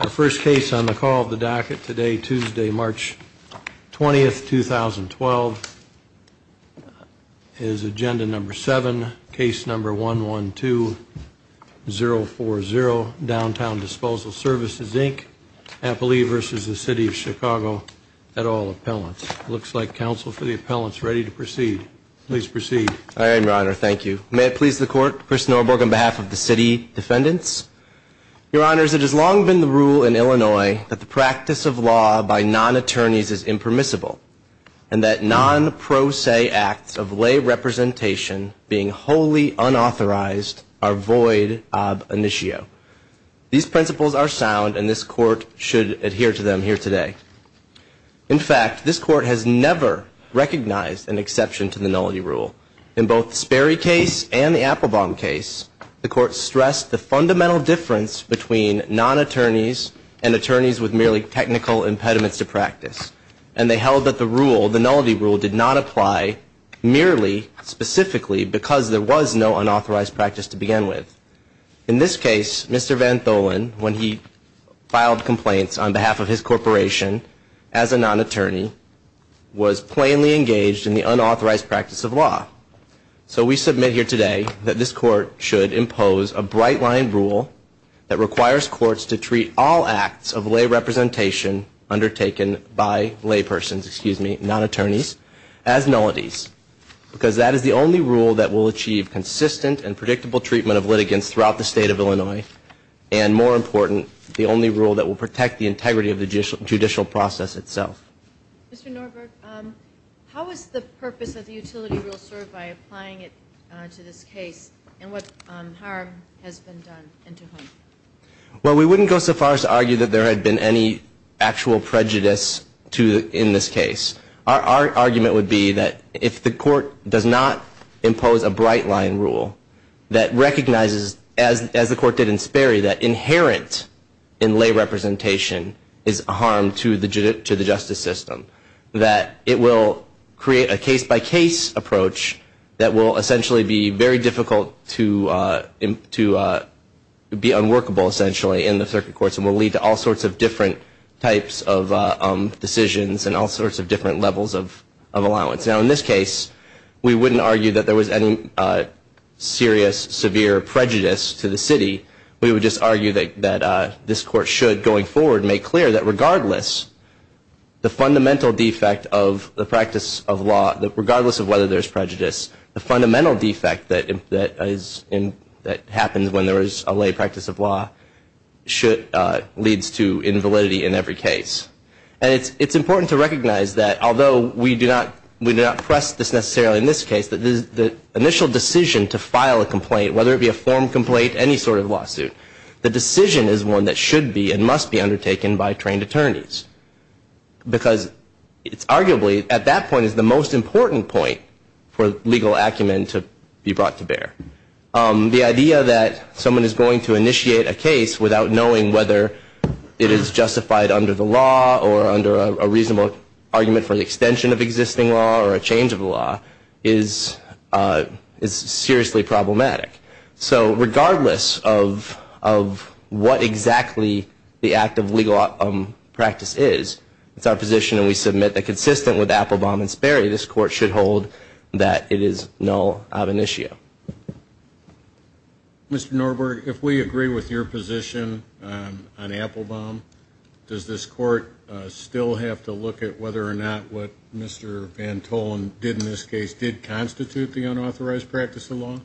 Our first case on the call of the docket today, Tuesday, March 20, 2012. Is agenda number 7, case number 112-040, Downtown Disposal Services, Inc., Appalachia v. the City of Chicago, at all appellants. It looks like counsel for the appellants are ready to proceed. Please proceed. I am, your honor. Thank you. May it please the court, Chris Norberg on behalf of the city defendants. Your honors, it has long been the rule in Illinois that the practice of law by non-attorneys is impermissible, and that non-pro se acts of lay representation being wholly unauthorized are void ob initio. These principles are sound and this court should adhere to them here today. In fact, this court has never recognized an exception to the nullity rule. In both the Sperry case and the Applebaum case, the court stressed the fundamental difference between non-attorneys and attorneys with merely technical impediments to practice. And they held that the rule, the nullity rule, did not apply merely specifically because there was no unauthorized practice to begin with. In this case, Mr. Van Tholen, when he filed complaints on behalf of his corporation, as a non-attorney, was plainly engaged in the unauthorized practice of law. So we submit here today that this court should impose a bright line rule that requires courts to treat all acts of lay representation undertaken by lay persons, excuse me, non-attorneys, as nullities. Because that is the only rule that will achieve consistent and predictable treatment of litigants throughout the state of Illinois, and more important, the only rule that will protect the integrity of the judicial process itself. Mr. Norberg, how is the purpose of the utility rule served by applying it to this case, and what harm has been done and to whom? Well, we wouldn't go so far as to argue that there had been any actual prejudice in this case. Our argument would be that if the court does not impose a bright line rule that recognizes, as the court did in Sperry, that inherent in lay representation is a harm to the justice system, that it will create a case-by-case approach that will essentially be very difficult to be unworkable, essentially, in the circuit courts, and will lead to all sorts of different types of decisions and all sorts of different levels of allowance. Now, in this case, we wouldn't argue that there was any serious, severe prejudice to the city. We would just argue that this court should, going forward, make clear that regardless of whether there's prejudice, the fundamental defect that happens when there is a lay practice of law leads to invalidity in every case. And it's important to recognize that, although we do not press this necessarily in this case, that the initial decision to file a complaint, whether it be a formed complaint, any sort of lawsuit, the decision is one that should be and must be undertaken by trained attorneys. Because it's arguably, at that point, the most important point for legal acumen to be brought to bear. The idea that someone is going to initiate a case without knowing whether it is justified under the law or under a reasonable argument for the extension of existing law or a change of law is seriously problematic. So regardless of what exactly the act of legal practice is, it's our position, and we submit, that consistent with Applebaum and Sperry, this court should hold that it is null of initio. Mr. Norberg, if we agree with your position on Applebaum, does this court still have to look at whether or not what Mr. Van Tolen did in this case did constitute the unauthorized practice of law?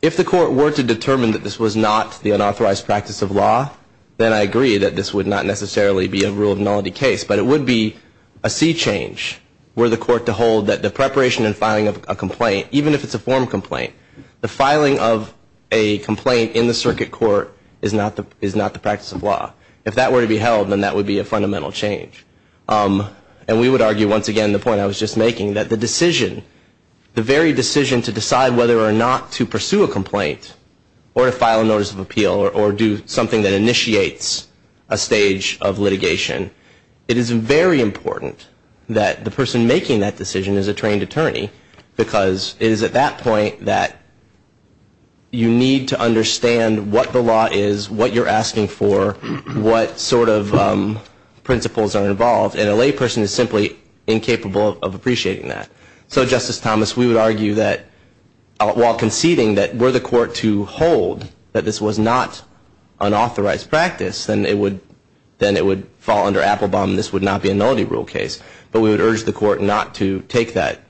If the court were to determine that this was not the unauthorized practice of law, then I agree that this would not necessarily be a rule of nullity case. But it would be a sea change were the court to hold that the preparation and filing of a complaint, even if it's a formed complaint, the filing of a complaint in the circuit court is not the practice of law. If that were to be held, then that would be a fundamental change. And we would argue, once again, the point I was just making, that the decision, the very decision to decide whether or not to pursue a complaint or to file a notice of appeal or do something that initiates a stage of litigation, it is very important that the person making that decision is a trained attorney because it is at that point that you need to understand what the law is, what you're asking for, what sort of principles are involved. And a layperson is simply incapable of appreciating that. So, Justice Thomas, we would argue that, while conceding that were the court to hold that this was not unauthorized practice, then it would fall under Applebaum and this would not be a nullity rule case. But we would urge the court not to take that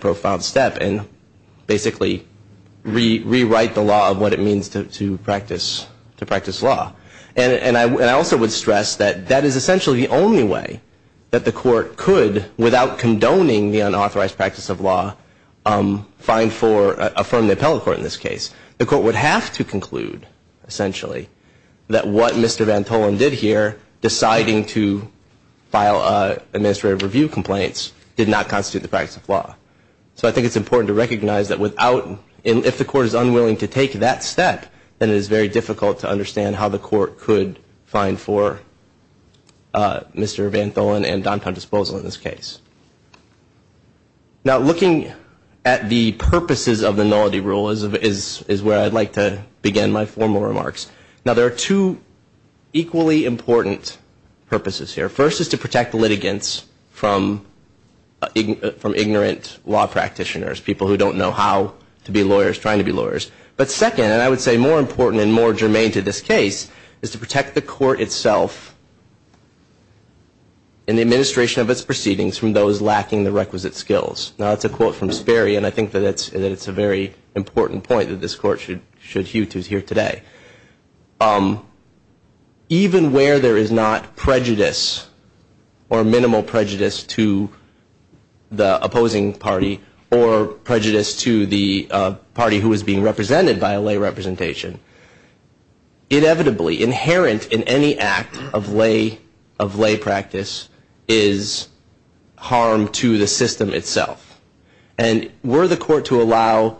profound step and basically rewrite the law of what it means to practice law. And I also would stress that that is essentially the only way that the court could, without condoning the unauthorized practice of law, find for, affirm the appellate court in this case. The court would have to conclude, essentially, that what Mr. Van Tholen did here, deciding to file administrative review complaints, did not constitute the practice of law. So I think it's important to recognize that without, if the court is unwilling to take that step, then it is very difficult to understand how the court could find for Mr. Van Tholen and downtown disposal in this case. Now, looking at the purposes of the nullity rule is where I'd like to begin my formal remarks. Now, there are two equally important purposes here. First is to protect the litigants from ignorant law practitioners, people who don't know how to be lawyers, trying to be lawyers. But second, and I would say more important and more germane to this case, is to protect the court itself and the administration of its proceedings from those lacking the requisite skills. Now, that's a quote from Sperry, and I think that it's a very important point that this court should hew to here today. Even where there is not prejudice or minimal prejudice to the opposing party or prejudice to the party who is being represented by a lay representation, inevitably, inherent in any act of lay practice is harm to the system itself. And were the court to allow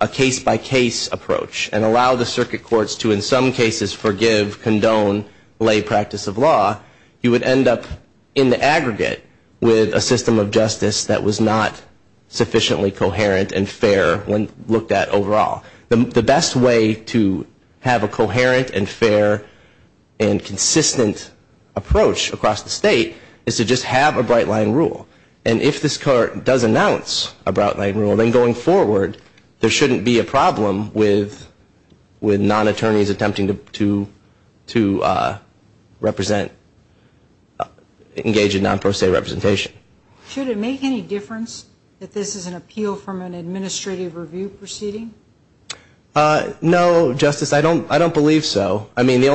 a case-by-case approach and allow the circuit courts to in some cases forgive, condone lay practice of law, you would end up in the aggregate with a system of justice that was not sufficiently coherent and fair when looked at overall. The best way to have a coherent and fair and consistent approach across the state is to just have a bright-line rule. And if this court does announce a bright-line rule, then going forward, there shouldn't be a problem with non-attorneys attempting to represent, engage in non-pro se representation. Should it make any difference that this is an appeal from an administrative review proceeding? No, Justice. I don't believe so. I mean, the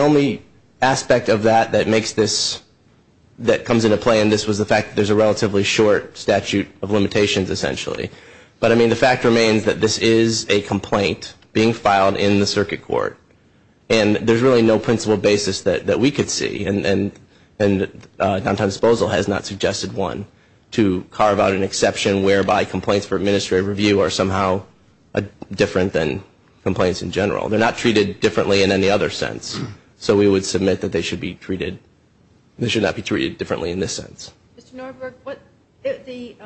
only aspect of that that comes into play in this was the fact that there's a relatively short statute of limitations, essentially. But, I mean, the fact remains that this is a complaint being filed in the circuit court, and there's really no principle basis that we could see. And downtown disposal has not suggested one to carve out an exception whereby complaints for administrative review are somehow different than complaints in general. They're not treated differently in any other sense. So we would submit that they should not be treated differently in this sense. Mr. Norberg, the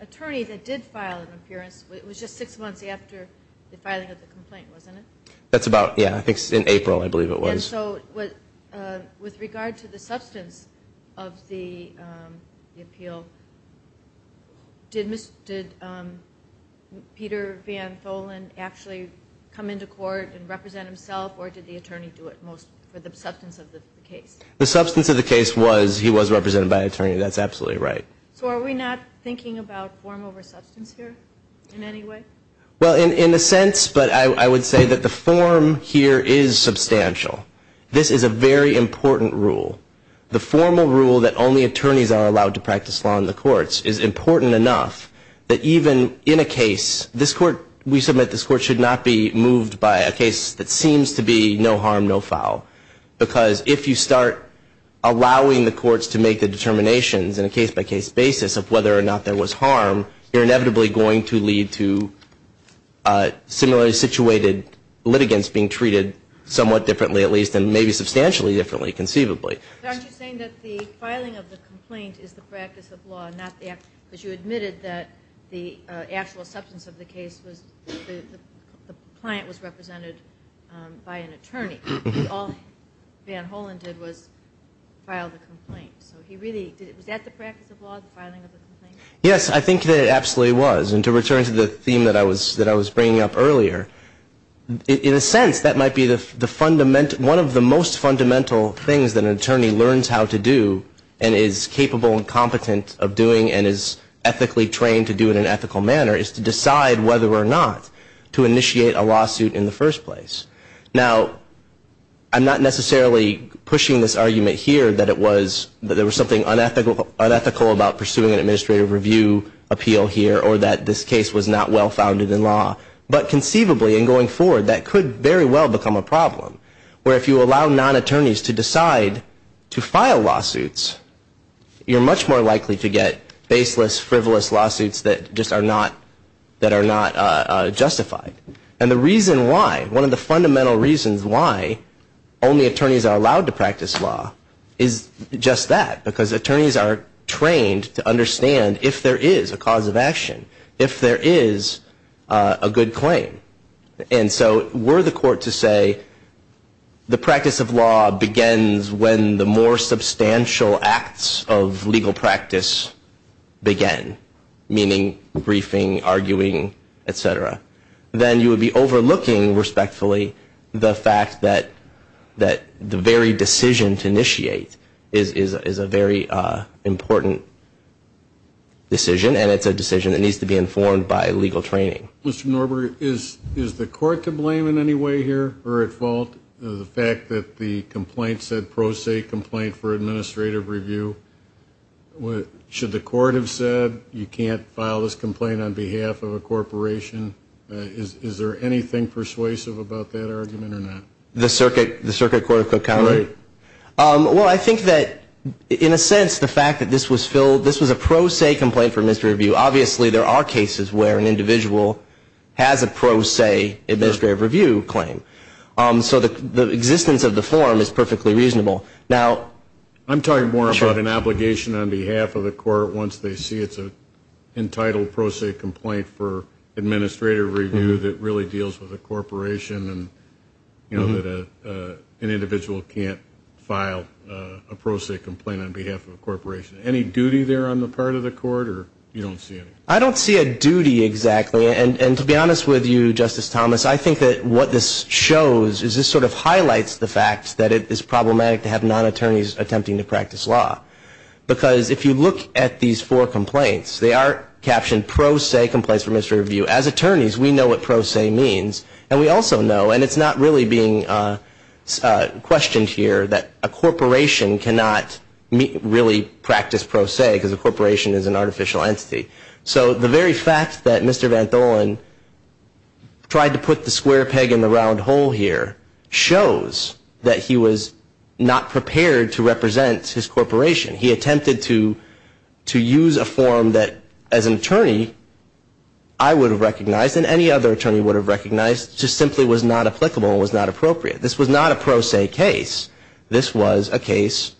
attorney that did file an appearance, it was just six months after the filing of the complaint, wasn't it? That's about, yeah, I think in April, I believe it was. And so with regard to the substance of the appeal, did Peter Van Tholen actually come into court and represent himself, or did the attorney do it for the substance of the case? The substance of the case was he was represented by an attorney. That's absolutely right. So are we not thinking about form over substance here in any way? Well, in a sense, but I would say that the form here is substantial. This is a very important rule. The formal rule that only attorneys are allowed to practice law in the courts is important enough that even in a case, this court, we submit this court should not be moved by a case that seems to be no harm, no foul. Because if you start allowing the courts to make the determinations in a case-by-case basis of whether or not there was harm, you're inevitably going to lead to similarly situated litigants being treated somewhat differently, at least, and maybe substantially differently, conceivably. But aren't you saying that the filing of the complaint is the practice of law, not that because you admitted that the actual substance of the case was the client was represented by an attorney. All Van Tholen did was file the complaint. Was that the practice of law, the filing of the complaint? Yes, I think that it absolutely was. And to return to the theme that I was bringing up earlier, in a sense that might be one of the most fundamental things that an attorney learns how to do and is capable and competent of doing and is ethically trained to do in an ethical manner is to decide whether or not to initiate a lawsuit in the first place. Now, I'm not necessarily pushing this argument here that it was, that there was something unethical about pursuing an administrative review appeal here or that this case was not well-founded in law. But conceivably, in going forward, that could very well become a problem, where if you allow non-attorneys to decide to file lawsuits, you're much more likely to get baseless, frivolous lawsuits that just are not, that are not justified. And the reason why, one of the fundamental reasons why only attorneys are allowed to practice law is just that, because attorneys are trained to understand if there is a cause of action, if there is a good claim. And so were the court to say the practice of law begins when the more substantial acts of legal practice begin, meaning briefing, arguing, et cetera, then you would be overlooking, respectfully, the fact that the very decision to initiate is a very important decision, and it's a decision that needs to be informed by legal training. Mr. Norberg, is the court to blame in any way here or at fault? The fact that the complaint said pro se complaint for administrative review, should the court have said you can't file this complaint on behalf of a corporation? Is there anything persuasive about that argument or not? The circuit court of Cook County? Right. Well, I think that, in a sense, the fact that this was a pro se complaint for administrative review, obviously there are cases where an individual has a pro se administrative review claim. So the existence of the form is perfectly reasonable. I'm talking more about an obligation on behalf of the court once they see it's an entitled pro se complaint for administrative review that really deals with a corporation and that an individual can't file a pro se complaint on behalf of a corporation. Any duty there on the part of the court, or you don't see any? I don't see a duty exactly. And to be honest with you, Justice Thomas, I think that what this shows is this sort of highlights the fact that it is problematic to have non-attorneys attempting to practice law. Because if you look at these four complaints, they are captioned pro se complaints for administrative review. As attorneys, we know what pro se means. And we also know, and it's not really being questioned here, that a corporation cannot really practice pro se because a corporation is an artificial entity. So the very fact that Mr. Van Tholen tried to put the square peg in the round hole here shows that he was not prepared to represent his corporation. He attempted to use a form that, as an attorney, I would have recognized and any other attorney would have recognized just simply was not applicable and was not appropriate. This was not a pro se case. This was a case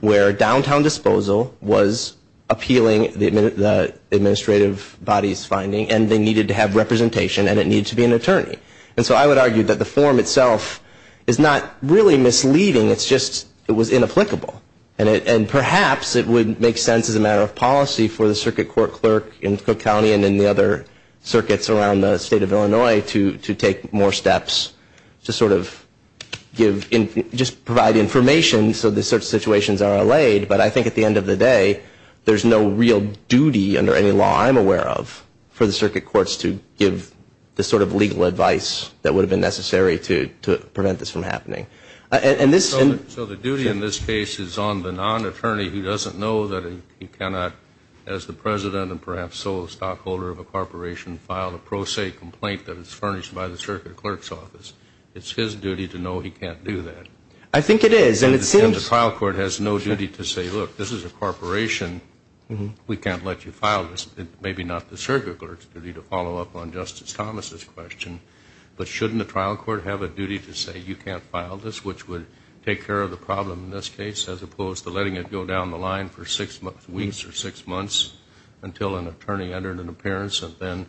where downtown disposal was appealing the administrative body's finding and they needed to have representation and it needed to be an attorney. And so I would argue that the form itself is not really misleading. It's just it was inapplicable. And perhaps it would make sense as a matter of policy for the circuit court clerk in Cook County and in the other circuits around the state of Illinois to take more steps to sort of give, just provide information so that such situations are allayed. But I think at the end of the day, there's no real duty under any law I'm aware of for the circuit courts to give the sort of legal advice that would have been necessary to prevent this from happening. So the duty in this case is on the non-attorney who doesn't know that he cannot, as the president and perhaps sole stockholder of a corporation, file a pro se complaint that is furnished by the circuit clerk's office. It's his duty to know he can't do that. I think it is. And the trial court has no duty to say, look, this is a corporation. We can't let you file this. Maybe not the circuit clerk's duty to follow up on Justice Thomas' question. But shouldn't the trial court have a duty to say you can't file this, which would take care of the problem in this case, as opposed to letting it go down the line for six weeks or six months until an attorney entered an appearance and then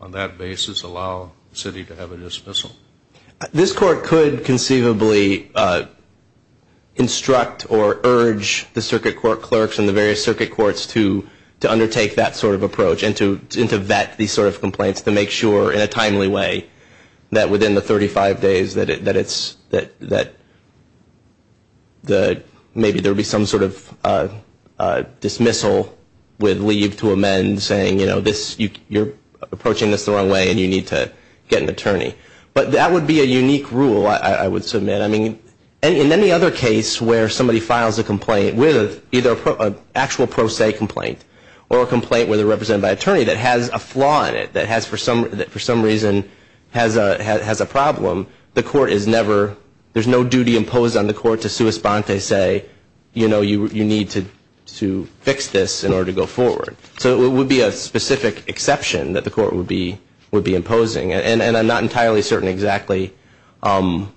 on that basis allow the city to have a dismissal? This court could conceivably instruct or urge the circuit court clerks and the various circuit courts to undertake that sort of approach and to vet these sort of complaints to make sure in a timely way that within the 35 days that maybe there would be some sort of dismissal with leave to amend, saying you're approaching this the wrong way and you need to get an attorney. But that would be a unique rule, I would submit. In any other case where somebody files a complaint with either an actual pro se complaint or a complaint with a representative by attorney that has a flaw in it, that for some reason has a problem, the court is never, there's no duty imposed on the court to sua sponte say you need to fix this in order to go forward. So it would be a specific exception that the court would be imposing. And I'm not entirely certain exactly how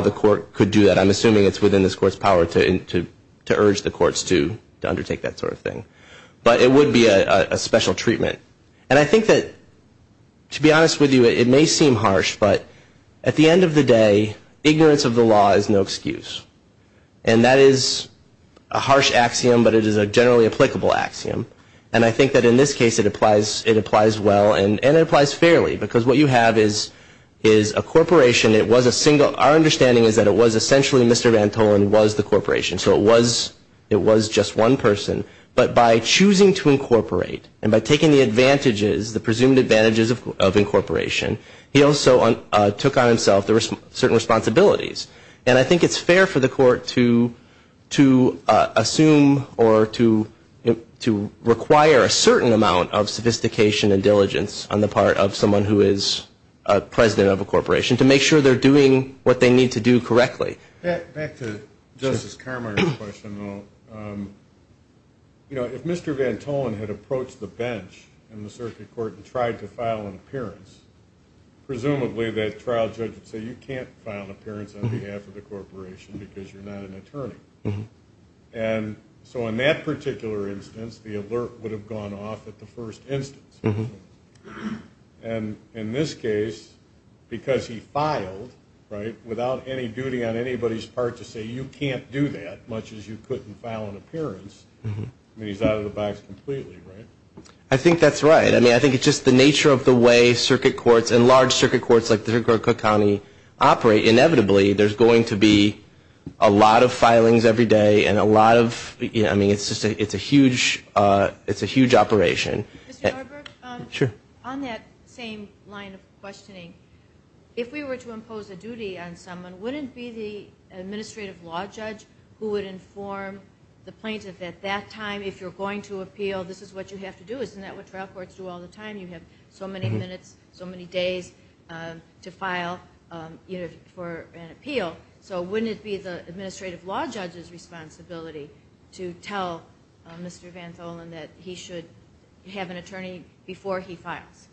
the court could do that. I'm assuming it's within this court's power to urge the courts to undertake that sort of thing. But it would be a special treatment. And I think that, to be honest with you, it may seem harsh, but at the end of the day ignorance of the law is no excuse. And that is a harsh axiom, but it is a generally applicable axiom. And I think that in this case it applies well and it applies fairly, because what you have is a corporation, it was a single, our understanding is that it was essentially Mr. Vantolin was the corporation. So it was just one person. But by choosing to incorporate and by taking the advantages, the presumed advantages of incorporation, he also took on himself certain responsibilities. And I think it's fair for the court to assume or to require a certain amount of sophistication and diligence on the part of someone who is president of a corporation to make sure they're doing what they need to do correctly. Back to Justice Carminer's question, though. If Mr. Vantolin had approached the bench in the circuit court and tried to file an appearance, presumably that trial judge would say, you can't file an appearance on behalf of the corporation because you're not an attorney. And so in that particular instance the alert would have gone off at the first instance. And in this case, because he filed, right, without any duty on anybody's part to say you can't do that, much as you couldn't file an appearance, I mean, he's out of the box completely, right? I think that's right. I mean, I think it's just the nature of the way circuit courts and large circuit courts like the Cook County operate, inevitably there's going to be a lot of filings every day and a lot of, I mean, it's a huge operation. Mr. Norberg? Sure. On that same line of questioning, if we were to impose a duty on someone, wouldn't it be the administrative law judge who would inform the plaintiff at that time, if you're going to appeal, this is what you have to do? Isn't that what trial courts do all the time? You have so many minutes, so many days to file for an appeal. So wouldn't it be the administrative law judge's responsibility to tell Mr. Vantolin that he should have an attorney before he files?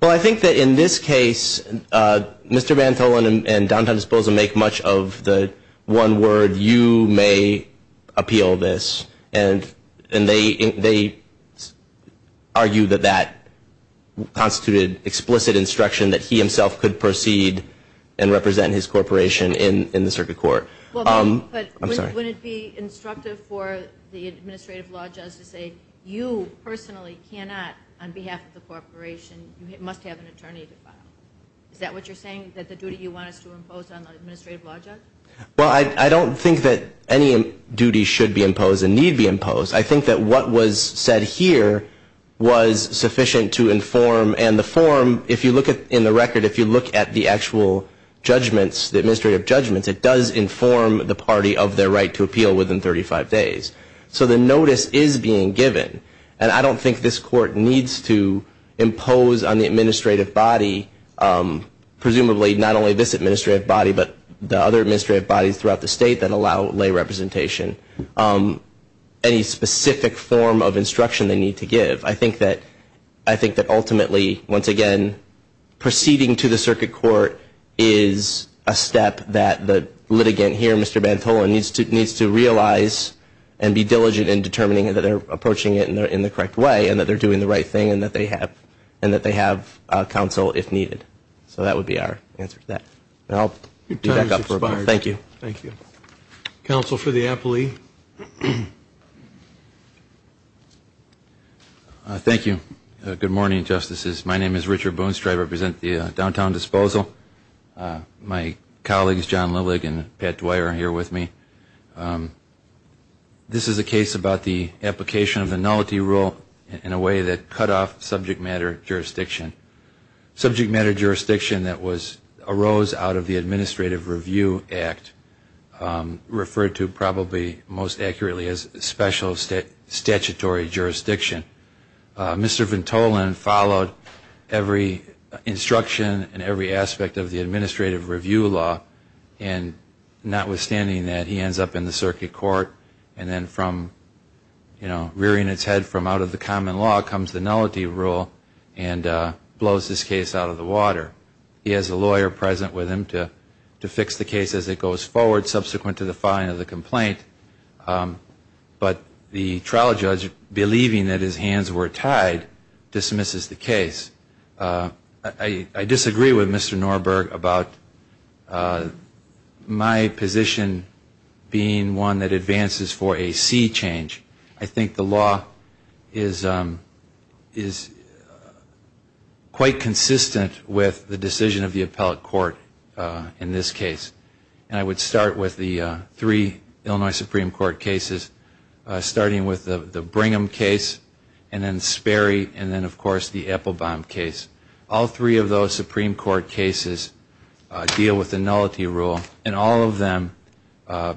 Well, I think that in this case, Mr. Vantolin and Don Donisposa make much of the one word, you may appeal this, and they argue that that constituted explicit instruction that he himself could proceed and represent his corporation in the circuit court. But wouldn't it be instructive for the administrative law judge to say, you personally cannot, on behalf of the corporation, you must have an attorney to file? Is that what you're saying, that the duty you want us to impose on the administrative law judge? Well, I don't think that any duty should be imposed and need be imposed. I think that what was said here was sufficient to inform, and the form, if you look in the record, if you look at the actual judgments, the administrative judgments, it does inform the party of their right to appeal within 35 days. So the notice is being given, and I don't think this court needs to impose on the administrative body, presumably not only this administrative body, but the other administrative bodies throughout the state that allow lay representation, any specific form of instruction they need to give. I think that ultimately, once again, proceeding to the circuit court is a step that the litigant here, Mr. Bantola, needs to realize and be diligent in determining that they're approaching it in the correct way and that they're doing the right thing and that they have counsel if needed. So that would be our answer to that. Your time has expired. Thank you. Thank you. Counsel for the appellee. Thank you. Good morning, Justices. My name is Richard Boonstra. I represent the Downtown Disposal. My colleagues, John Lilig and Pat Dwyer, are here with me. This is a case about the application of the Nullity Rule in a way that cut off subject matter jurisdiction, subject matter jurisdiction that arose out of the Administrative Review Act, referred to probably most accurately as special statutory jurisdiction. Mr. Bantola followed every instruction and every aspect of the Administrative Review Law, and notwithstanding that, he ends up in the circuit court. And then from, you know, rearing its head from out of the common law comes the Nullity Rule and blows this case out of the water. He has a lawyer present with him to fix the case as it goes forward subsequent to the filing of the complaint. But the trial judge, believing that his hands were tied, dismisses the case. I disagree with Mr. Norberg about my position being one that advances for a C change. I think the law is quite consistent with the decision of the appellate court in this case. And I would start with the three Illinois Supreme Court cases, starting with the Brigham case, and then Sperry, and then, of course, the Applebaum case. All three of those Supreme Court cases deal with the Nullity Rule, and all of them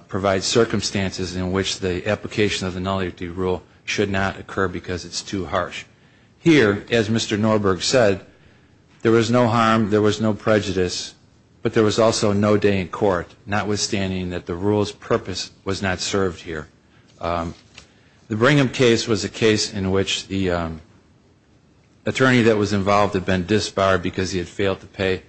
provide circumstances in which the application of the Nullity Rule should not occur because it's too harsh. Here, as Mr. Norberg said, there was no harm, there was no prejudice, but there was also no day in court, notwithstanding that the rule's purpose was not served here. The Brigham case was a case in which the attorney that was involved had been disbarred because he had failed to pay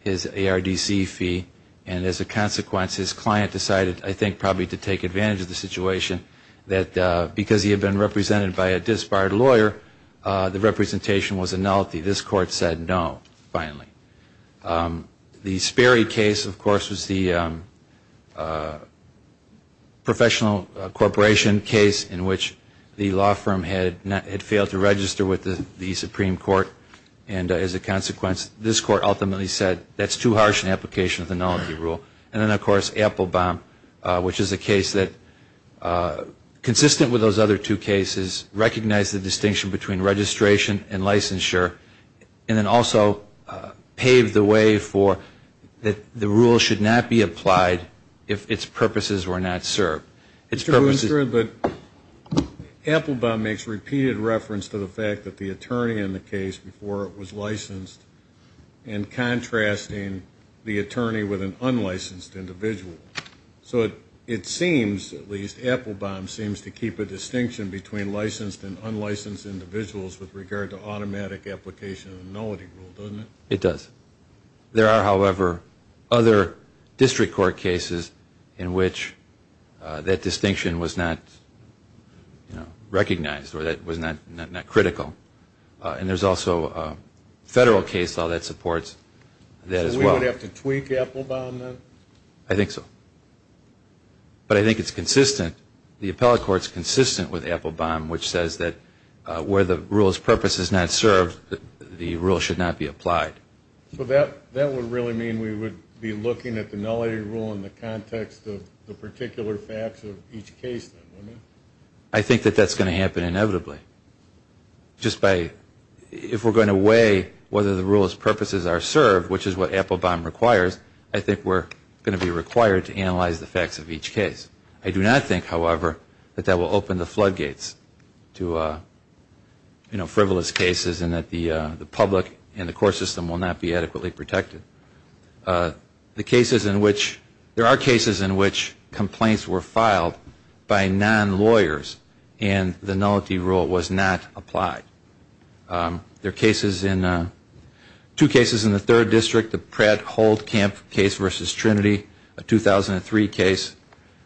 his ARDC fee. And as a consequence, his client decided, I think probably to take advantage of the situation, that because he had been represented by a disbarred lawyer, the representation was a nullity. This court said no, finally. The Sperry case, of course, was the professional corporation case in which the law firm had failed to register with the Supreme Court. And as a consequence, this court ultimately said that's too harsh an application of the Nullity Rule. And then, of course, Applebaum, which is a case that, consistent with those other two cases, recognized the distinction between registration and licensure. And then also paved the way for that the rule should not be applied if its purposes were not served. It's true, but Applebaum makes repeated reference to the fact that the attorney in the case, before it was licensed, and contrasting the attorney with an unlicensed individual. So it seems, at least Applebaum seems to keep a distinction between licensed and unlicensed individuals with regard to automatic application of the Nullity Rule, doesn't it? It does. There are, however, other district court cases in which that distinction was not, you know, recognized or that was not critical. And there's also a federal case law that supports that as well. So we would have to tweak Applebaum then? I think so. But I think it's consistent, the appellate court's consistent with Applebaum, which says that where the rule's purpose is not served, the rule should not be applied. So that would really mean we would be looking at the Nullity Rule in the context of the particular facts of each case? I think that that's going to happen inevitably. Just by, if we're going to weigh whether the rule's purposes are served, which is what Applebaum requires, I think we're going to be required to analyze the facts of each case. I do not think, however, that that will open the floodgates to, you know, frivolous cases and that the public and the court system will not be adequately protected. The cases in which, there are cases in which complaints were filed by non-lawyers and the Nullity Rule was not applied. There are cases in, two cases in the third district, the Pratt-Holt-Camp case versus Trinity, a 2003 case,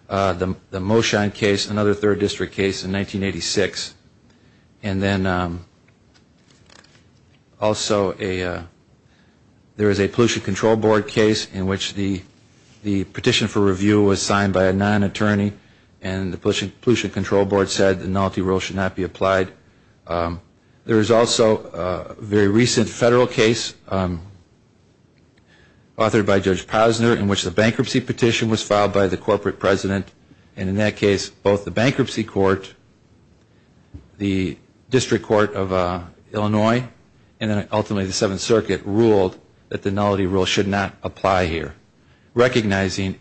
the Moshon case, another third district case in 1986. And then also there is a Pollution Control Board case in which the petition for review was signed by a non-attorney and the Pollution Control Board said the Nullity Rule should not be applied. There is also a very recent federal case authored by Judge Posner in which the bankruptcy petition was filed by the corporate president and in that case both the bankruptcy court, the District Court of Illinois, and then ultimately the Seventh Circuit ruled that the Nullity Rule should not apply here, recognizing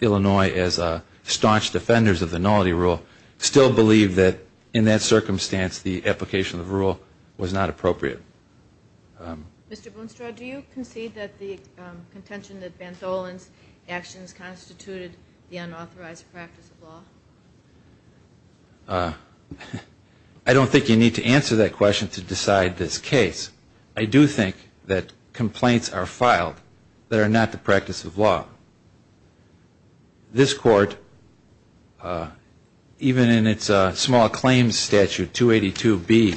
Illinois as a staunch defenders of the Nullity Rule, still believe that in that circumstance the application of the rule was not appropriate. Ms. Brunstrad, do you concede that the contention that Van Tholen's actions constituted the unauthorized practice of law? I don't think you need to answer that question to decide this case. I do think that complaints are filed that are not the practice of law. This court, even in its small claims statute, 282B,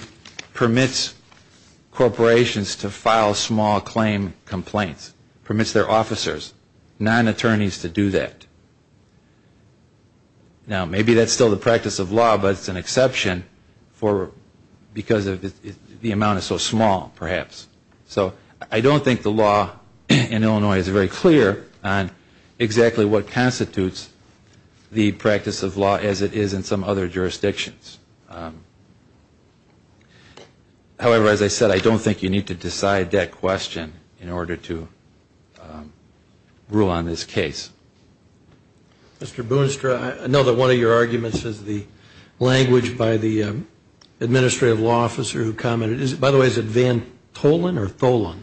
permits corporations to file small claim complaints, permits their officers, non-attorneys, to do that. Now maybe that is still the practice of law, but it is an exception because the amount is so small. So I don't think the law in Illinois is very clear on exactly what constitutes the practice of law as it is in some other jurisdictions. However, as I said, I don't think you need to decide that question in order to rule on this case. Mr. Boonstra, I know that one of your arguments is the language by the administrative law officer who commented, by the way, is it Van Tholen or Tholen?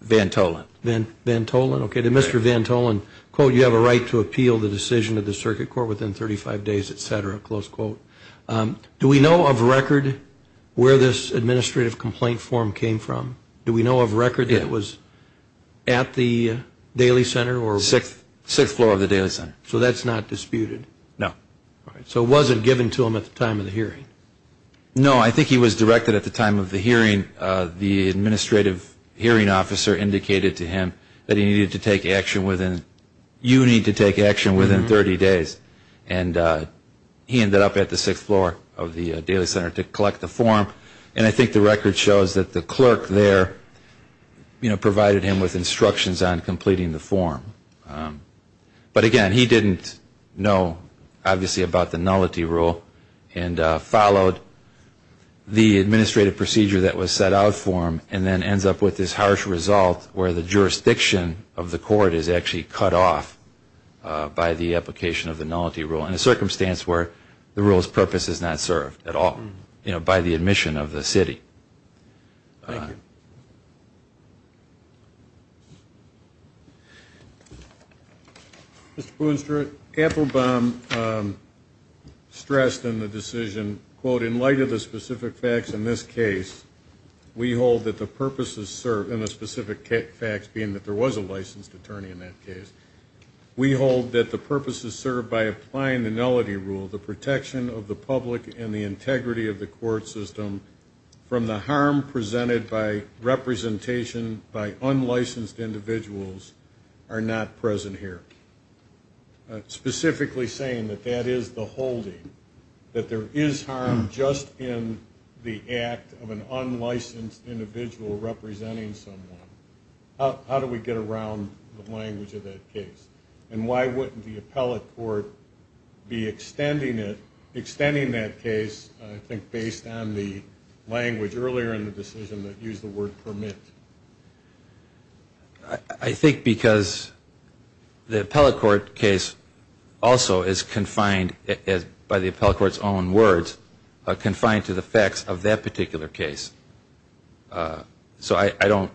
Van Tholen. Mr. Van Tholen, quote, you have a right to appeal the decision of the circuit court within 35 days, et cetera, close quote. Do we know of record where this administrative complaint form came from? Do we know of record that it was at the Daly Center? Sixth floor of the Daly Center. So that's not disputed? No. So it wasn't given to him at the time of the hearing? No, I think he was directed at the time of the hearing, the administrative hearing officer indicated to him that he needed to take action within, you need to take action within 30 days. And he ended up at the sixth floor of the Daly Center to collect the form. And I think the record shows that the clerk there, you know, provided him with instructions on completing the form. But again, he didn't know, obviously, about the nullity rule and followed the administrative procedure that was set out for him and then ends up with this harsh result where the jurisdiction of the court is actually cut off by the application of the nullity rule in a circumstance where the rule's purpose is not served at all, you know, by the admission of the city. Thank you. Mr. Boonstra, Applebaum stressed in the decision, quote, in light of the specific facts in this case, we hold that the purpose is served, and the specific facts being that there was a licensed attorney in that case. We hold that the purpose is served by applying the nullity rule, the protection of the public and the integrity of the court system from the harm presented by representation by unlicensed individuals are not present here. Specifically saying that that is the holding, that there is harm just in the act of an unlicensed individual representing someone. How do we get around the language of that case? And why wouldn't the appellate court be extending it, extending that case, I think, based on the language earlier in the decision that used the word permit? I think because the appellate court case also is confined, by the appellate court's own words, confined to the facts of that particular case. So I don't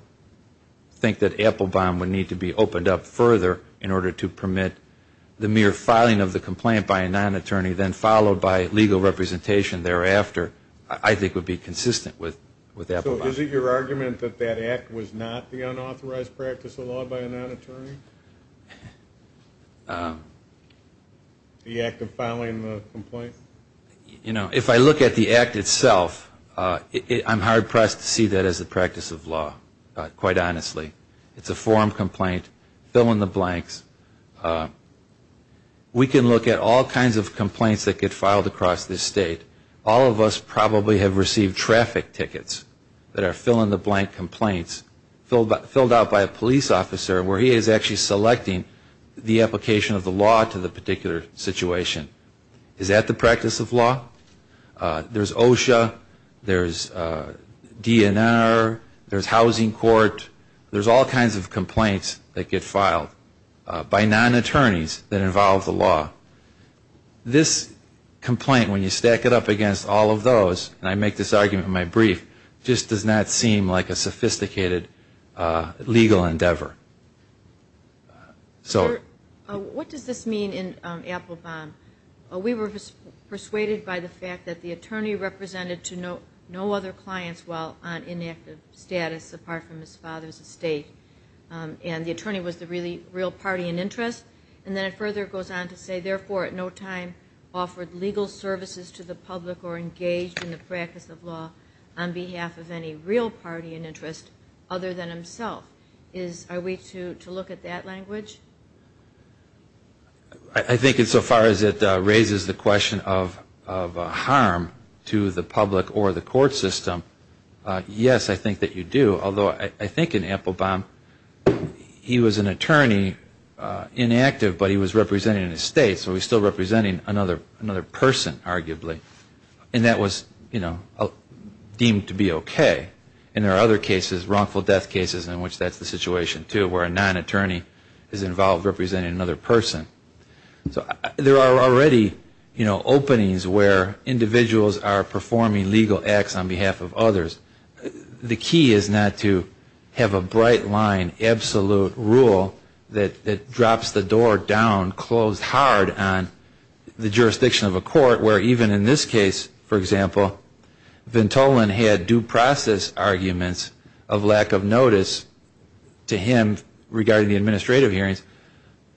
think that Applebaum would need to be opened up further in order to permit the mere filing of the complaint by a non-attorney, then followed by legal representation thereafter, I think would be consistent with Applebaum. So is it your argument that that act was not the unauthorized practice of law by a non-attorney? The act of filing the complaint? I'm not impressed to see that as the practice of law, quite honestly. It's a form complaint, fill in the blanks. We can look at all kinds of complaints that get filed across this state. All of us probably have received traffic tickets that are fill-in-the-blank complaints filled out by a police officer where he is actually selecting the application of the law to the particular situation. Is that the practice of law? There's OSHA, there's DNR, there's housing court, there's all kinds of complaints that get filed by non-attorneys that involve the law. This complaint, when you stack it up against all of those, and I make this argument in my brief, just does not seem like a sophisticated legal endeavor. What does this mean in Applebaum? We were persuaded by the fact that the attorney represented to no other clients while on inactive status apart from his father's estate. And the attorney was the real party in interest. And then it further goes on to say, therefore, at no time offered legal services to the public or engaged in the practice of law on behalf of any real party in interest other than himself. Are we to look at that language? I think so far as it raises the question of harm to the public or the court system, yes, I think that you do. Although I think in Applebaum he was an attorney inactive, but he was representing an estate, so he was still representing another person, arguably. And that was deemed to be okay. And there are other cases, wrongful death cases in which that's the situation, too, where a non-attorney is involved representing another person. So there are already, you know, openings where individuals are performing legal acts on behalf of others. The key is not to have a bright line, absolute rule that drops the door down, closed hard on the jurisdiction of a court where even in this case, for example, Ventolin had due process arguments of lack of notice to him regarding the administrative hearings.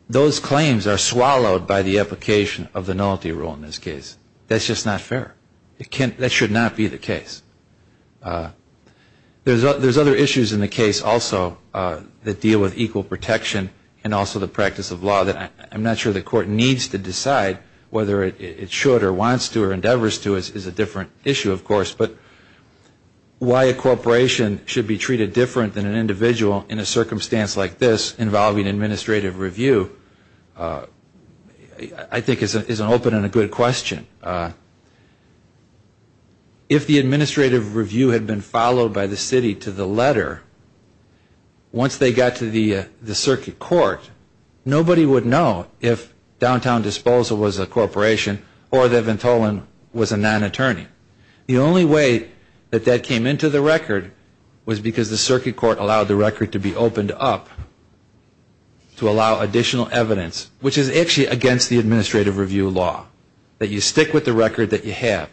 Those claims are swallowed by the application of the nullity rule in this case. That's just not fair. That should not be the case. There's other issues in the case also that deal with equal protection and also the practice of law that I'm not sure the court needs to decide whether it should or wants to or endeavors to is a different issue, of course. But why a corporation should be treated different than an individual in a circumstance like this involving administrative review I think is an open and a good question. If the administrative review had been followed by the city to the letter, once they got to the circuit court, nobody would know if downtown disposal was a non-attorney. The only way that that came into the record was because the circuit court allowed the record to be opened up to allow additional evidence, which is actually against the administrative review law, that you stick with the record that you have.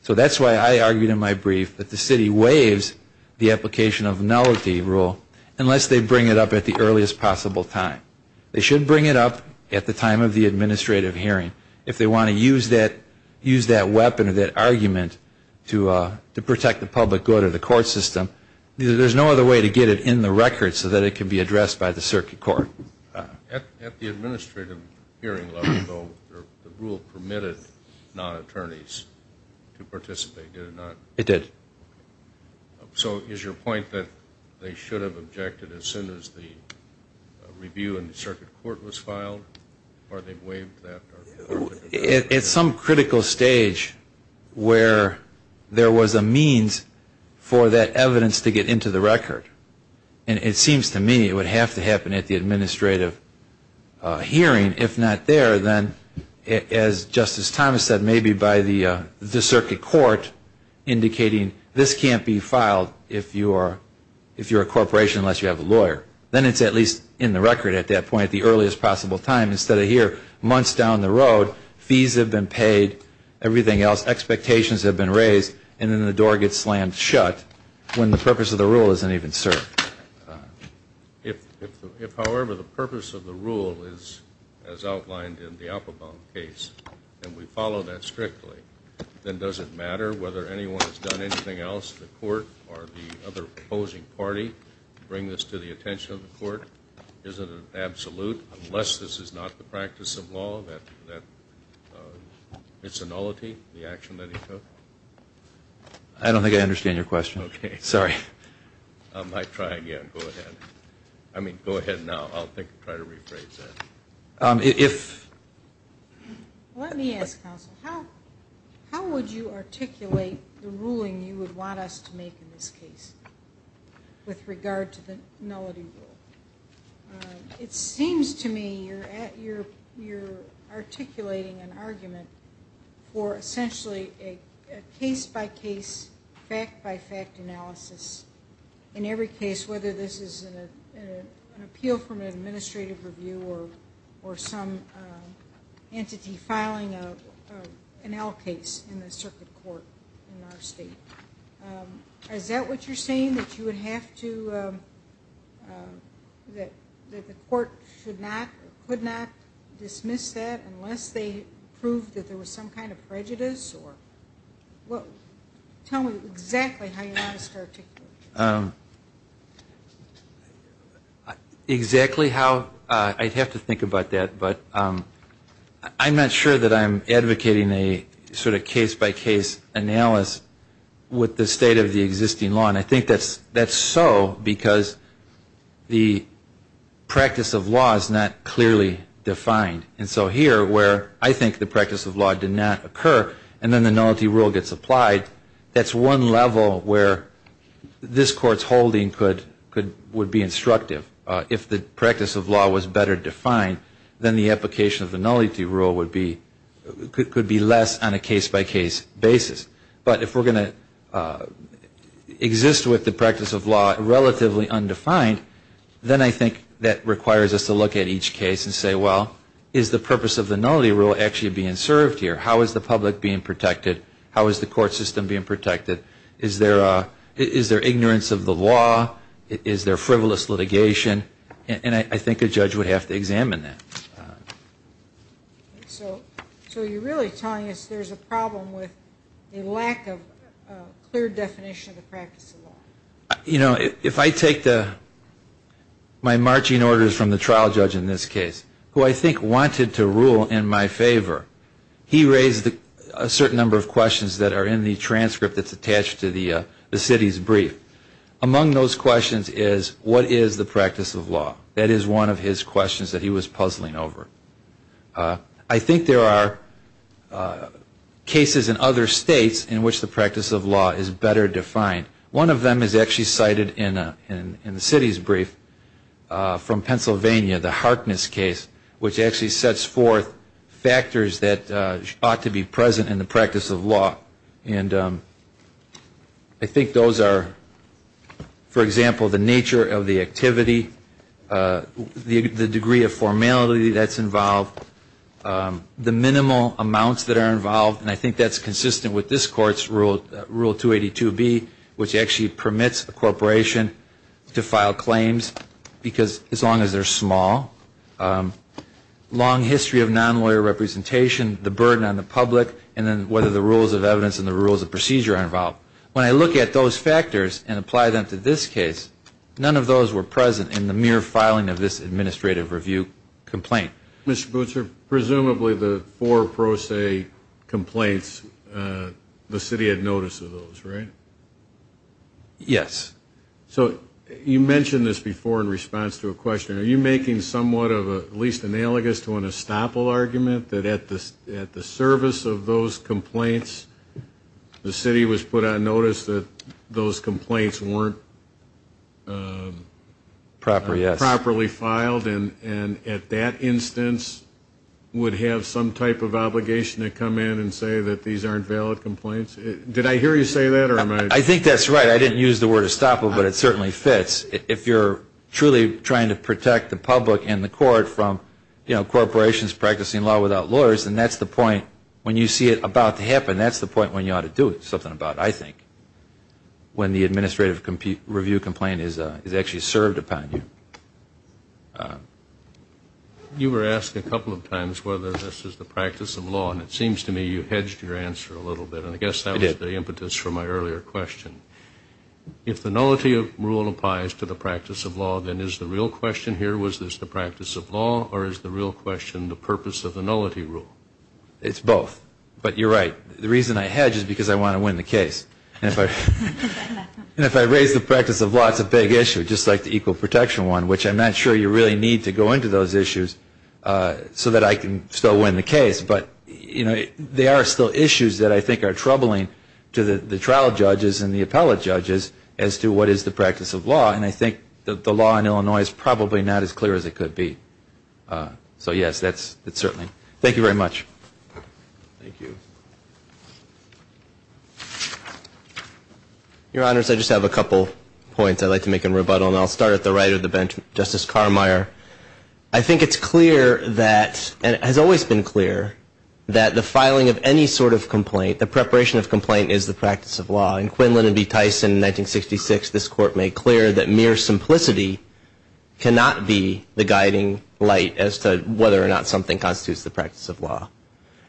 So that's why I argued in my brief that the city waives the application of nullity rule unless they bring it up at the earliest possible time. They should bring it up at the time of the administrative hearing. If they want to use that weapon or that argument to protect the public good or the court system, there's no other way to get it in the record so that it can be addressed by the circuit court. At the administrative hearing level, though, the rule permitted non-attorneys to participate, did it not? It did. So is your point that they should have objected as soon as the review in the circuit court was filed? Or they waived that? At some critical stage where there was a means for that evidence to get into the record. And it seems to me it would have to happen at the administrative hearing. If not there, then as Justice Thomas said, maybe by the circuit court indicating to the administrative hearing that there was a non-attorney, this can't be filed if you're a corporation unless you have a lawyer. Then it's at least in the record at that point, the earliest possible time, instead of here, months down the road, fees have been paid, everything else, expectations have been raised, and then the door gets slammed shut when the purpose of the rule isn't even served. If, however, the purpose of the rule is as outlined in the Appelbaum case, and we follow that strictly, then does it matter whether anyone has done anything else, the court or the other opposing party, bring this to the attention of the court? Is it an absolute, unless this is not the practice of law, that it's a nullity, the action that he took? I don't think I understand your question. Okay. Sorry. I'll try again. Go ahead. I mean, go ahead now. I'll try to rephrase that. Let me ask counsel, how would you articulate the ruling you would want us to make in this case with regard to the nullity rule? Because in every case, whether this is an appeal from an administrative review or some entity filing an L case in the circuit court in our state, is that what you're saying, that you would have to, that the court should not or could not dismiss that unless they proved that there was some kind of prejudice? Tell me exactly how you want to start articulating it. Exactly how, I'd have to think about that. But I'm not sure that I'm advocating a sort of case-by-case analysis with the state of the existing law. And I think that's so because the practice of law is not clearly defined. And so here, where I think the practice of law did not occur, and then the nullity rule gets applied, that's one level where this court's holding could be instructive. If the practice of law was better defined, then the application of the nullity rule could be less on a case-by-case basis. But if we're going to exist with the practice of law relatively undefined, then I think that requires us to look at each case and say, well, is the purpose of the nullity rule actually being served here? How is the public being protected? How is the court system being protected? Is there ignorance of the law? Is there frivolous litigation? And I think a judge would have to examine that. So you're really telling us there's a problem with a lack of clear definition of the practice of law? You know, if I take my marching orders from the trial judge in this case, who I think wanted to rule in my favor, he raised a certain number of questions that are in the transcript that's attached to the city's brief. Among those questions is, what is the practice of law? That is one of his questions that he was puzzling over. I think there are cases in other states in which the practice of law is better defined. One of them is actually cited in the city's brief from Pennsylvania, the Harkness case, which actually sets forth factors that ought to be present in the practice of law. And I think those are, for example, the nature of the activity, the degree of formality that's involved, the minimal amounts that are involved. And I think that's consistent with this Court's Rule 282B, which actually permits a corporation to file claims, because as long as they're small. Long history of non-lawyer representation, the burden on the public, and then whether the rules of evidence and the rules of procedure are involved. When I look at those factors and apply them to this case, none of those were present in the mere filing of this administrative review complaint. Mr. Bootser, presumably the four pro se complaints, the city had notice of those, right? Yes. So you mentioned this before in response to a question. Are you making somewhat of a, at least analogous to an estoppel argument, that at the service of those complaints, the city was put on notice that those complaints weren't properly filed, and at that instance would have some type of obligation to come in and say that these aren't valid complaints? Did I hear you say that? I think that's right. I didn't use the word estoppel, but it certainly fits. If you're truly trying to protect the public and the court from corporations practicing law without lawyers, then that's the point when you see it about to happen, that's the point when you ought to do something about it, I think, when the administrative review complaint is actually served upon you. You were asked a couple of times whether this is the practice of law, and it seems to me you hedged your answer a little bit. Yes, I did. That was the impetus for my earlier question. If the nullity rule applies to the practice of law, then is the real question here, was this the practice of law, or is the real question the purpose of the nullity rule? It's both, but you're right. The reason I hedge is because I want to win the case. And if I raise the practice of law, it's a big issue, just like the equal protection one, which I'm not sure you really need to go into those issues so that I can still win the case. But there are still issues that I think are troubling to the trial judges and the appellate judges as to what is the practice of law, and I think the law in Illinois is probably not as clear as it could be. So yes, it's certainly. Your Honors, I just have a couple points I'd like to make in rebuttal, and I'll start at the right of the bench. Justice Carmeier, I think it's clear that, and it has always been clear, that the filing of any sort of complaint, the preparation of complaint is the practice of law. In Quinlan v. Tyson in 1966, this Court made clear that mere simplicity cannot be the guiding light as to whether or not something constitutes the practice of law.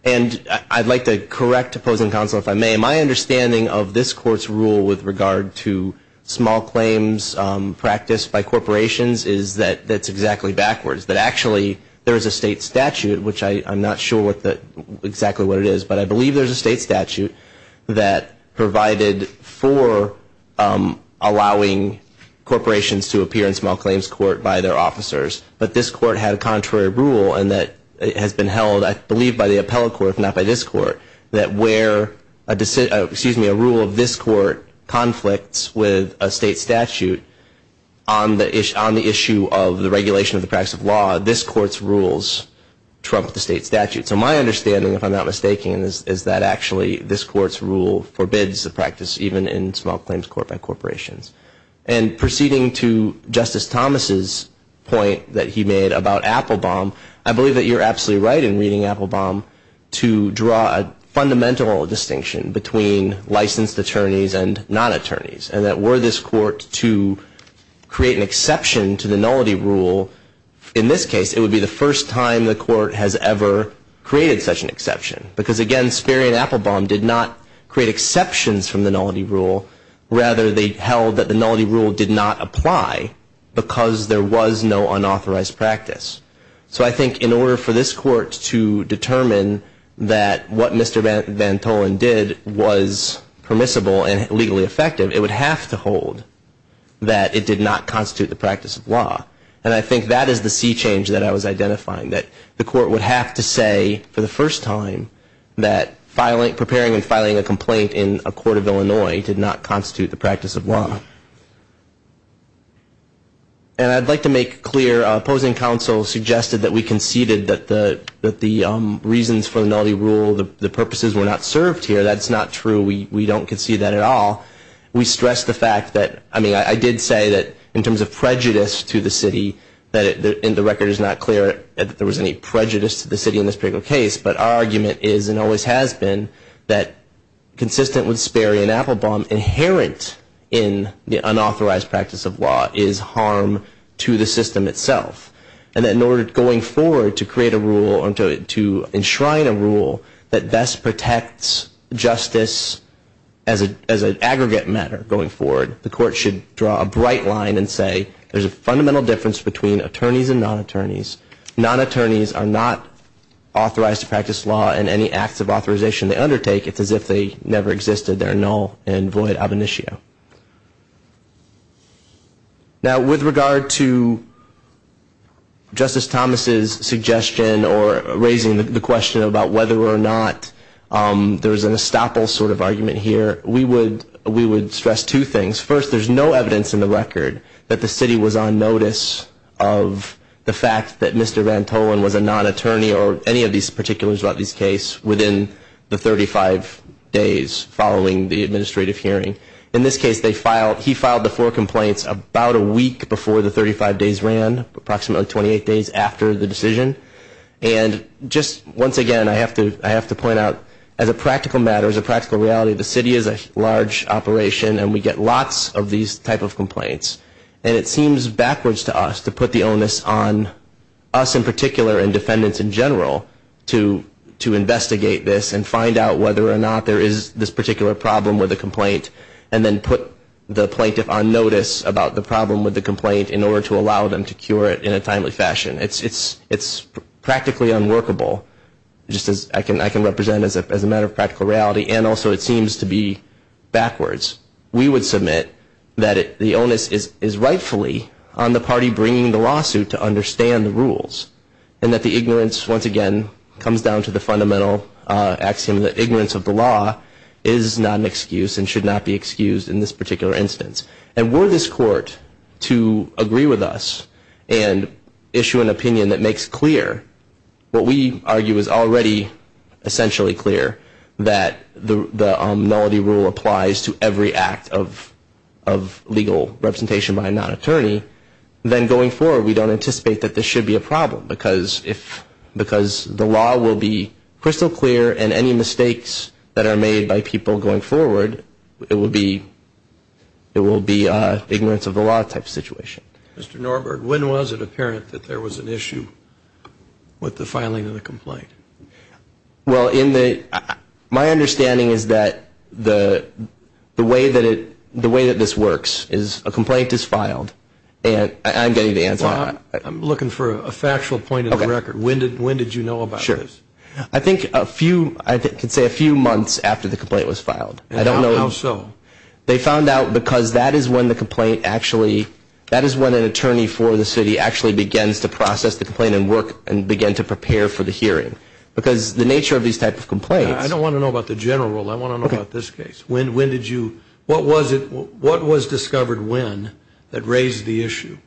And I'd like to correct the opposing counsel if I may. My understanding of this Court's rule with regard to small claims practice by corporations is that that's exactly backwards, that actually there is a state statute, which I'm not sure exactly what it is, but I believe there's a state statute that provided for allowing corporations to appear in small claims court by their officers. But this Court had a contrary rule, and that has been held, I believe, by the appellate court, if not by this Court, that where a rule of this Court conflicts with a state statute on the issue of the regulation of the practice of law, this Court's rules trump the state statute. So my understanding, if I'm not mistaken, is that actually this Court's rule forbids the practice even in small claims court by corporations. And proceeding to Justice Thomas's point that he made about Applebaum, I believe that you're absolutely right in reading Applebaum to draw a fundamental distinction between licensed attorneys and non-attorneys, and that were this Court to create an exception to the nullity rule, in this case, it would be the first time the Court has ever created such an exception. Because, again, Sperry and Applebaum did not create exceptions from the nullity rule. Rather, they held that the nullity rule did not apply because there was no unauthorized practice. So I think in order for this Court to determine that what Mr. Van Tollen did was permissible and legally effective, it would have to hold that it did not constitute the practice of law. And I think that is the sea change that I was identifying, that the Court would have to say for the first time that preparing and filing a complaint in a court of Illinois did not constitute the practice of law. And I'd like to make clear, opposing counsel suggested that we conceded that the reasons for the nullity rule, the purposes were not served here. That's not true. We don't concede that at all. We stress the fact that, I mean, I did say that in terms of prejudice to the city, and the record is not clear that there was any prejudice to the city in this particular case, but our argument is, and always has been, that consistent with Sperry and Applebaum, inherent in the unauthorized practice of law is harm to the system itself. And that in order, going forward, to create a rule or to enshrine a rule that best protects justice as an aggregate of the system, as an aggregate matter going forward, the Court should draw a bright line and say there's a fundamental difference between attorneys and non-attorneys. Non-attorneys are not authorized to practice law in any acts of authorization they undertake. It's as if they never existed. They're null and void ab initio. Now, with regard to Justice Thomas's suggestion or raising the question about whether or not there was an estoppel sort of argument here, we would stress two things. First, there's no evidence in the record that the city was on notice of the fact that Mr. Vantolin was a non-attorney or any of these particulars about this case within the 35 days following the administrative hearing. In this case, he filed the four complaints about a week before the 35 days ran, approximately 28 days after the decision. And just once again, I have to point out, as a practical matter, as a practical reality of the city, we have a large operation and we get lots of these type of complaints. And it seems backwards to us to put the onus on us in particular and defendants in general to investigate this and find out whether or not there is this particular problem with a complaint and then put the plaintiff on notice about the problem with the complaint in order to allow them to cure it in a timely fashion. It's practically unworkable, just as I can represent as a matter of practical reality, and also it seems to be backwards. We would submit that the onus is rightfully on the party bringing the lawsuit to understand the rules and that the ignorance, once again, comes down to the fundamental axiom that ignorance of the law is not an excuse and should not be excused in this particular instance. And were this court to agree with us and issue an opinion that makes clear what we argue is already essentially clear, that the nullity rule applies to every act of legal representation by a non-attorney, then going forward we don't anticipate that this should be a problem because the law will be crystal clear and any mistakes that are made by people going forward, it will be ignorance of the law type situation. Mr. Norberg, when was it apparent that there was an issue with the filing of the complaint? Well, my understanding is that the way that this works is a complaint is filed and I'm getting the answer. I'm looking for a factual point of the record. When did you know about this? I think a few, I could say a few months after the complaint was filed. How so? They found out because that is when an attorney for the city actually begins to process the complaint and work and begin to prepare for the hearing. I don't want to know about the general rule, I want to know about this case. What was discovered when that raised the issue?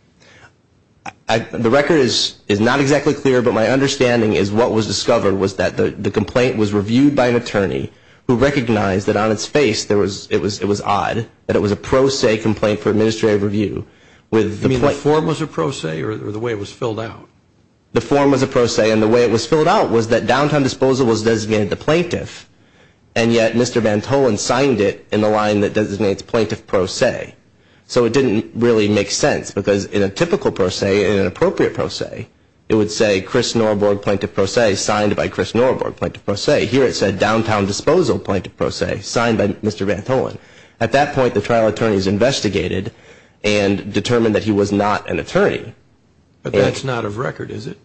The record is not exactly clear, but my understanding is what was discovered was that the complaint was reviewed by an attorney who recognized that on its face it was odd, that it was a pro se complaint for administrative review. You mean the form was a pro se or the way it was filled out? The form was a pro se and the way it was filled out was that downtown disposal was designated to plaintiff and yet Mr. Vantolin signed it in the line that designates plaintiff pro se. So it didn't really make sense because in a typical pro se, in an appropriate pro se, it would say Chris Norborg, plaintiff pro se, signed by Chris Norborg, plaintiff pro se. Here it said downtown disposal, plaintiff pro se, signed by Mr. Vantolin. At that point the trial attorneys investigated and determined that he was not an attorney. But that's not of record, is it?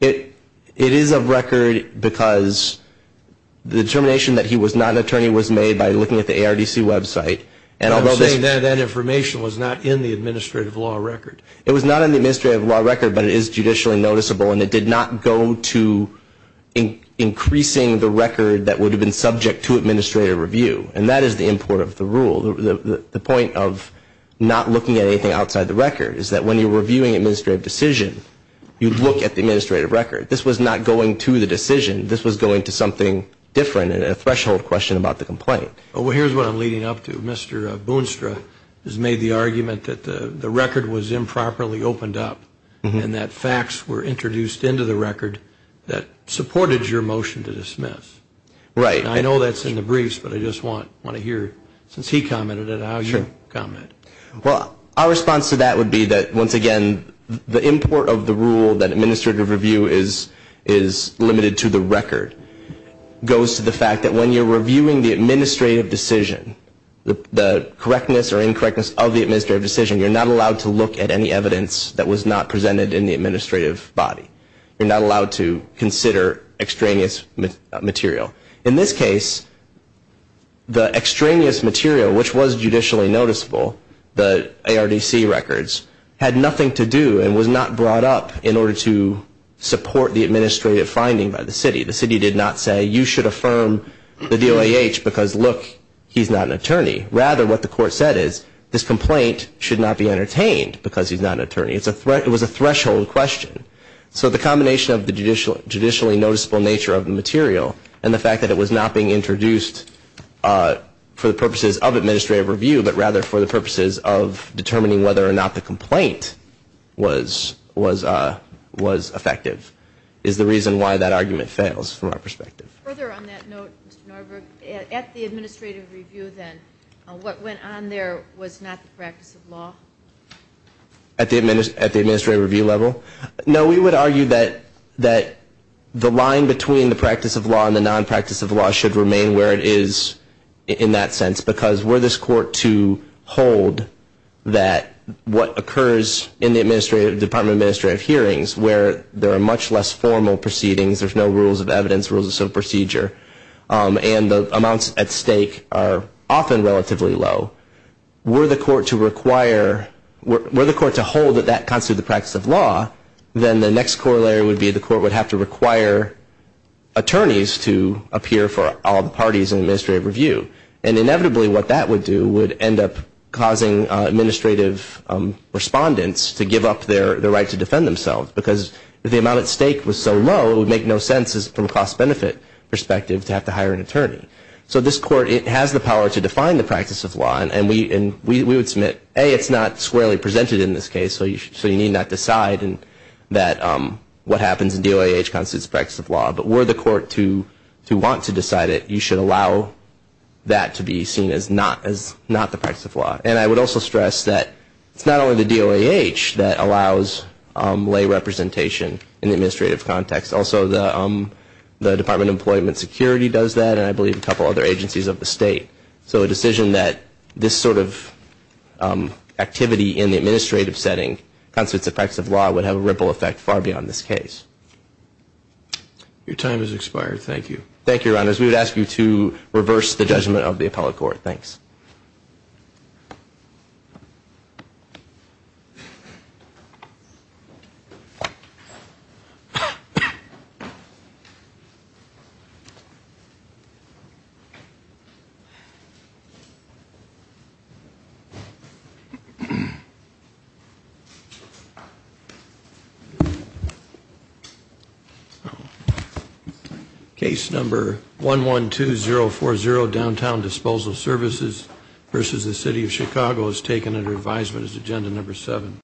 It is of record because the determination that he was not an attorney was made by looking at the ARDC website. I'm saying that that information was not in the administrative law record. It was not in the administrative law record, but it is judicially noticeable and it did not go to increasing the record that would have been subject to administrative review. And that is the import of the rule. The point of not looking at anything outside the record is that when you're reviewing an administrative decision, you look at the administrative record. This was not going to the decision. This was going to something different and a threshold question about the complaint. Well, here's what I'm leading up to. Mr. Boonstra has made the argument that the record was improperly opened up and that facts were introduced into the record that supported your motion to dismiss. And I know that's in the briefs, but I just want to hear, since he commented it, how you comment. Well, our response to that would be that, once again, the import of the rule that administrative review is limited to the record goes to the fact that when you're reviewing the administrative decision, the correctness or incorrectness of the administrative decision, you're not allowed to look at any evidence that was not presented in the administrative body. You're not allowed to consider extraneous material. In this case, the extraneous material, which was judicially noticeable, the ARDC records, had nothing to do and was not brought up in order to support the administrative finding by the city. The city did not say, you should affirm the DOAH because, look, he's not an attorney. Rather, what the court said is, this complaint should not be entertained because he's not an attorney. It was a threshold question. So the combination of the judicially noticeable nature of the material and the fact that it was not being introduced for the purposes of administrative review, but rather for the purposes of determining whether or not the complaint was effective, is the reason why that argument fails from our perspective. Further on that note, Mr. Norberg, at the administrative review then, what went on there was not the practice of law? At the administrative review level? No, we would argue that the line between the practice of law and the nonpractice of law should remain where it is in that sense, because were this court to hold that what occurs in the department of administrative hearings, where there are much less formal proceedings, there's no rules of evidence, rules of civil procedure, and the amounts at stake are often relatively low, were the court to hold that that constitutes the practice of law, then the next corollary would be the court would have to require attorneys to appear for all the parties in administrative review. And inevitably what that would do would end up causing administrative respondents to give up their right to defend themselves, because if the amount at stake was so low, it would make no sense from a cost-benefit perspective to have to hire an attorney. So this court, it has the power to define the practice of law, and we would submit, A, it's not squarely presented in this case, so you need not decide what happens in DOIH constitutes the practice of law, but were the court to want to decide it, you should allow that to be seen as not the practice of law. And I would also stress that it's not only the DOIH that allows lay representation in the administrative context. Also the Department of Employment Security does that, and I believe a couple other agencies of the state. So a decision that this sort of activity in the administrative setting constitutes the practice of law would have a ripple effect far beyond this case. Your time has expired. Thank you. Thank you, Your Honors. We would ask you to reverse the judgment of the appellate court. Thanks. Case number 112040, Downtown Disposal Services v. The City of Chicago is taken under advisement as agenda number 7.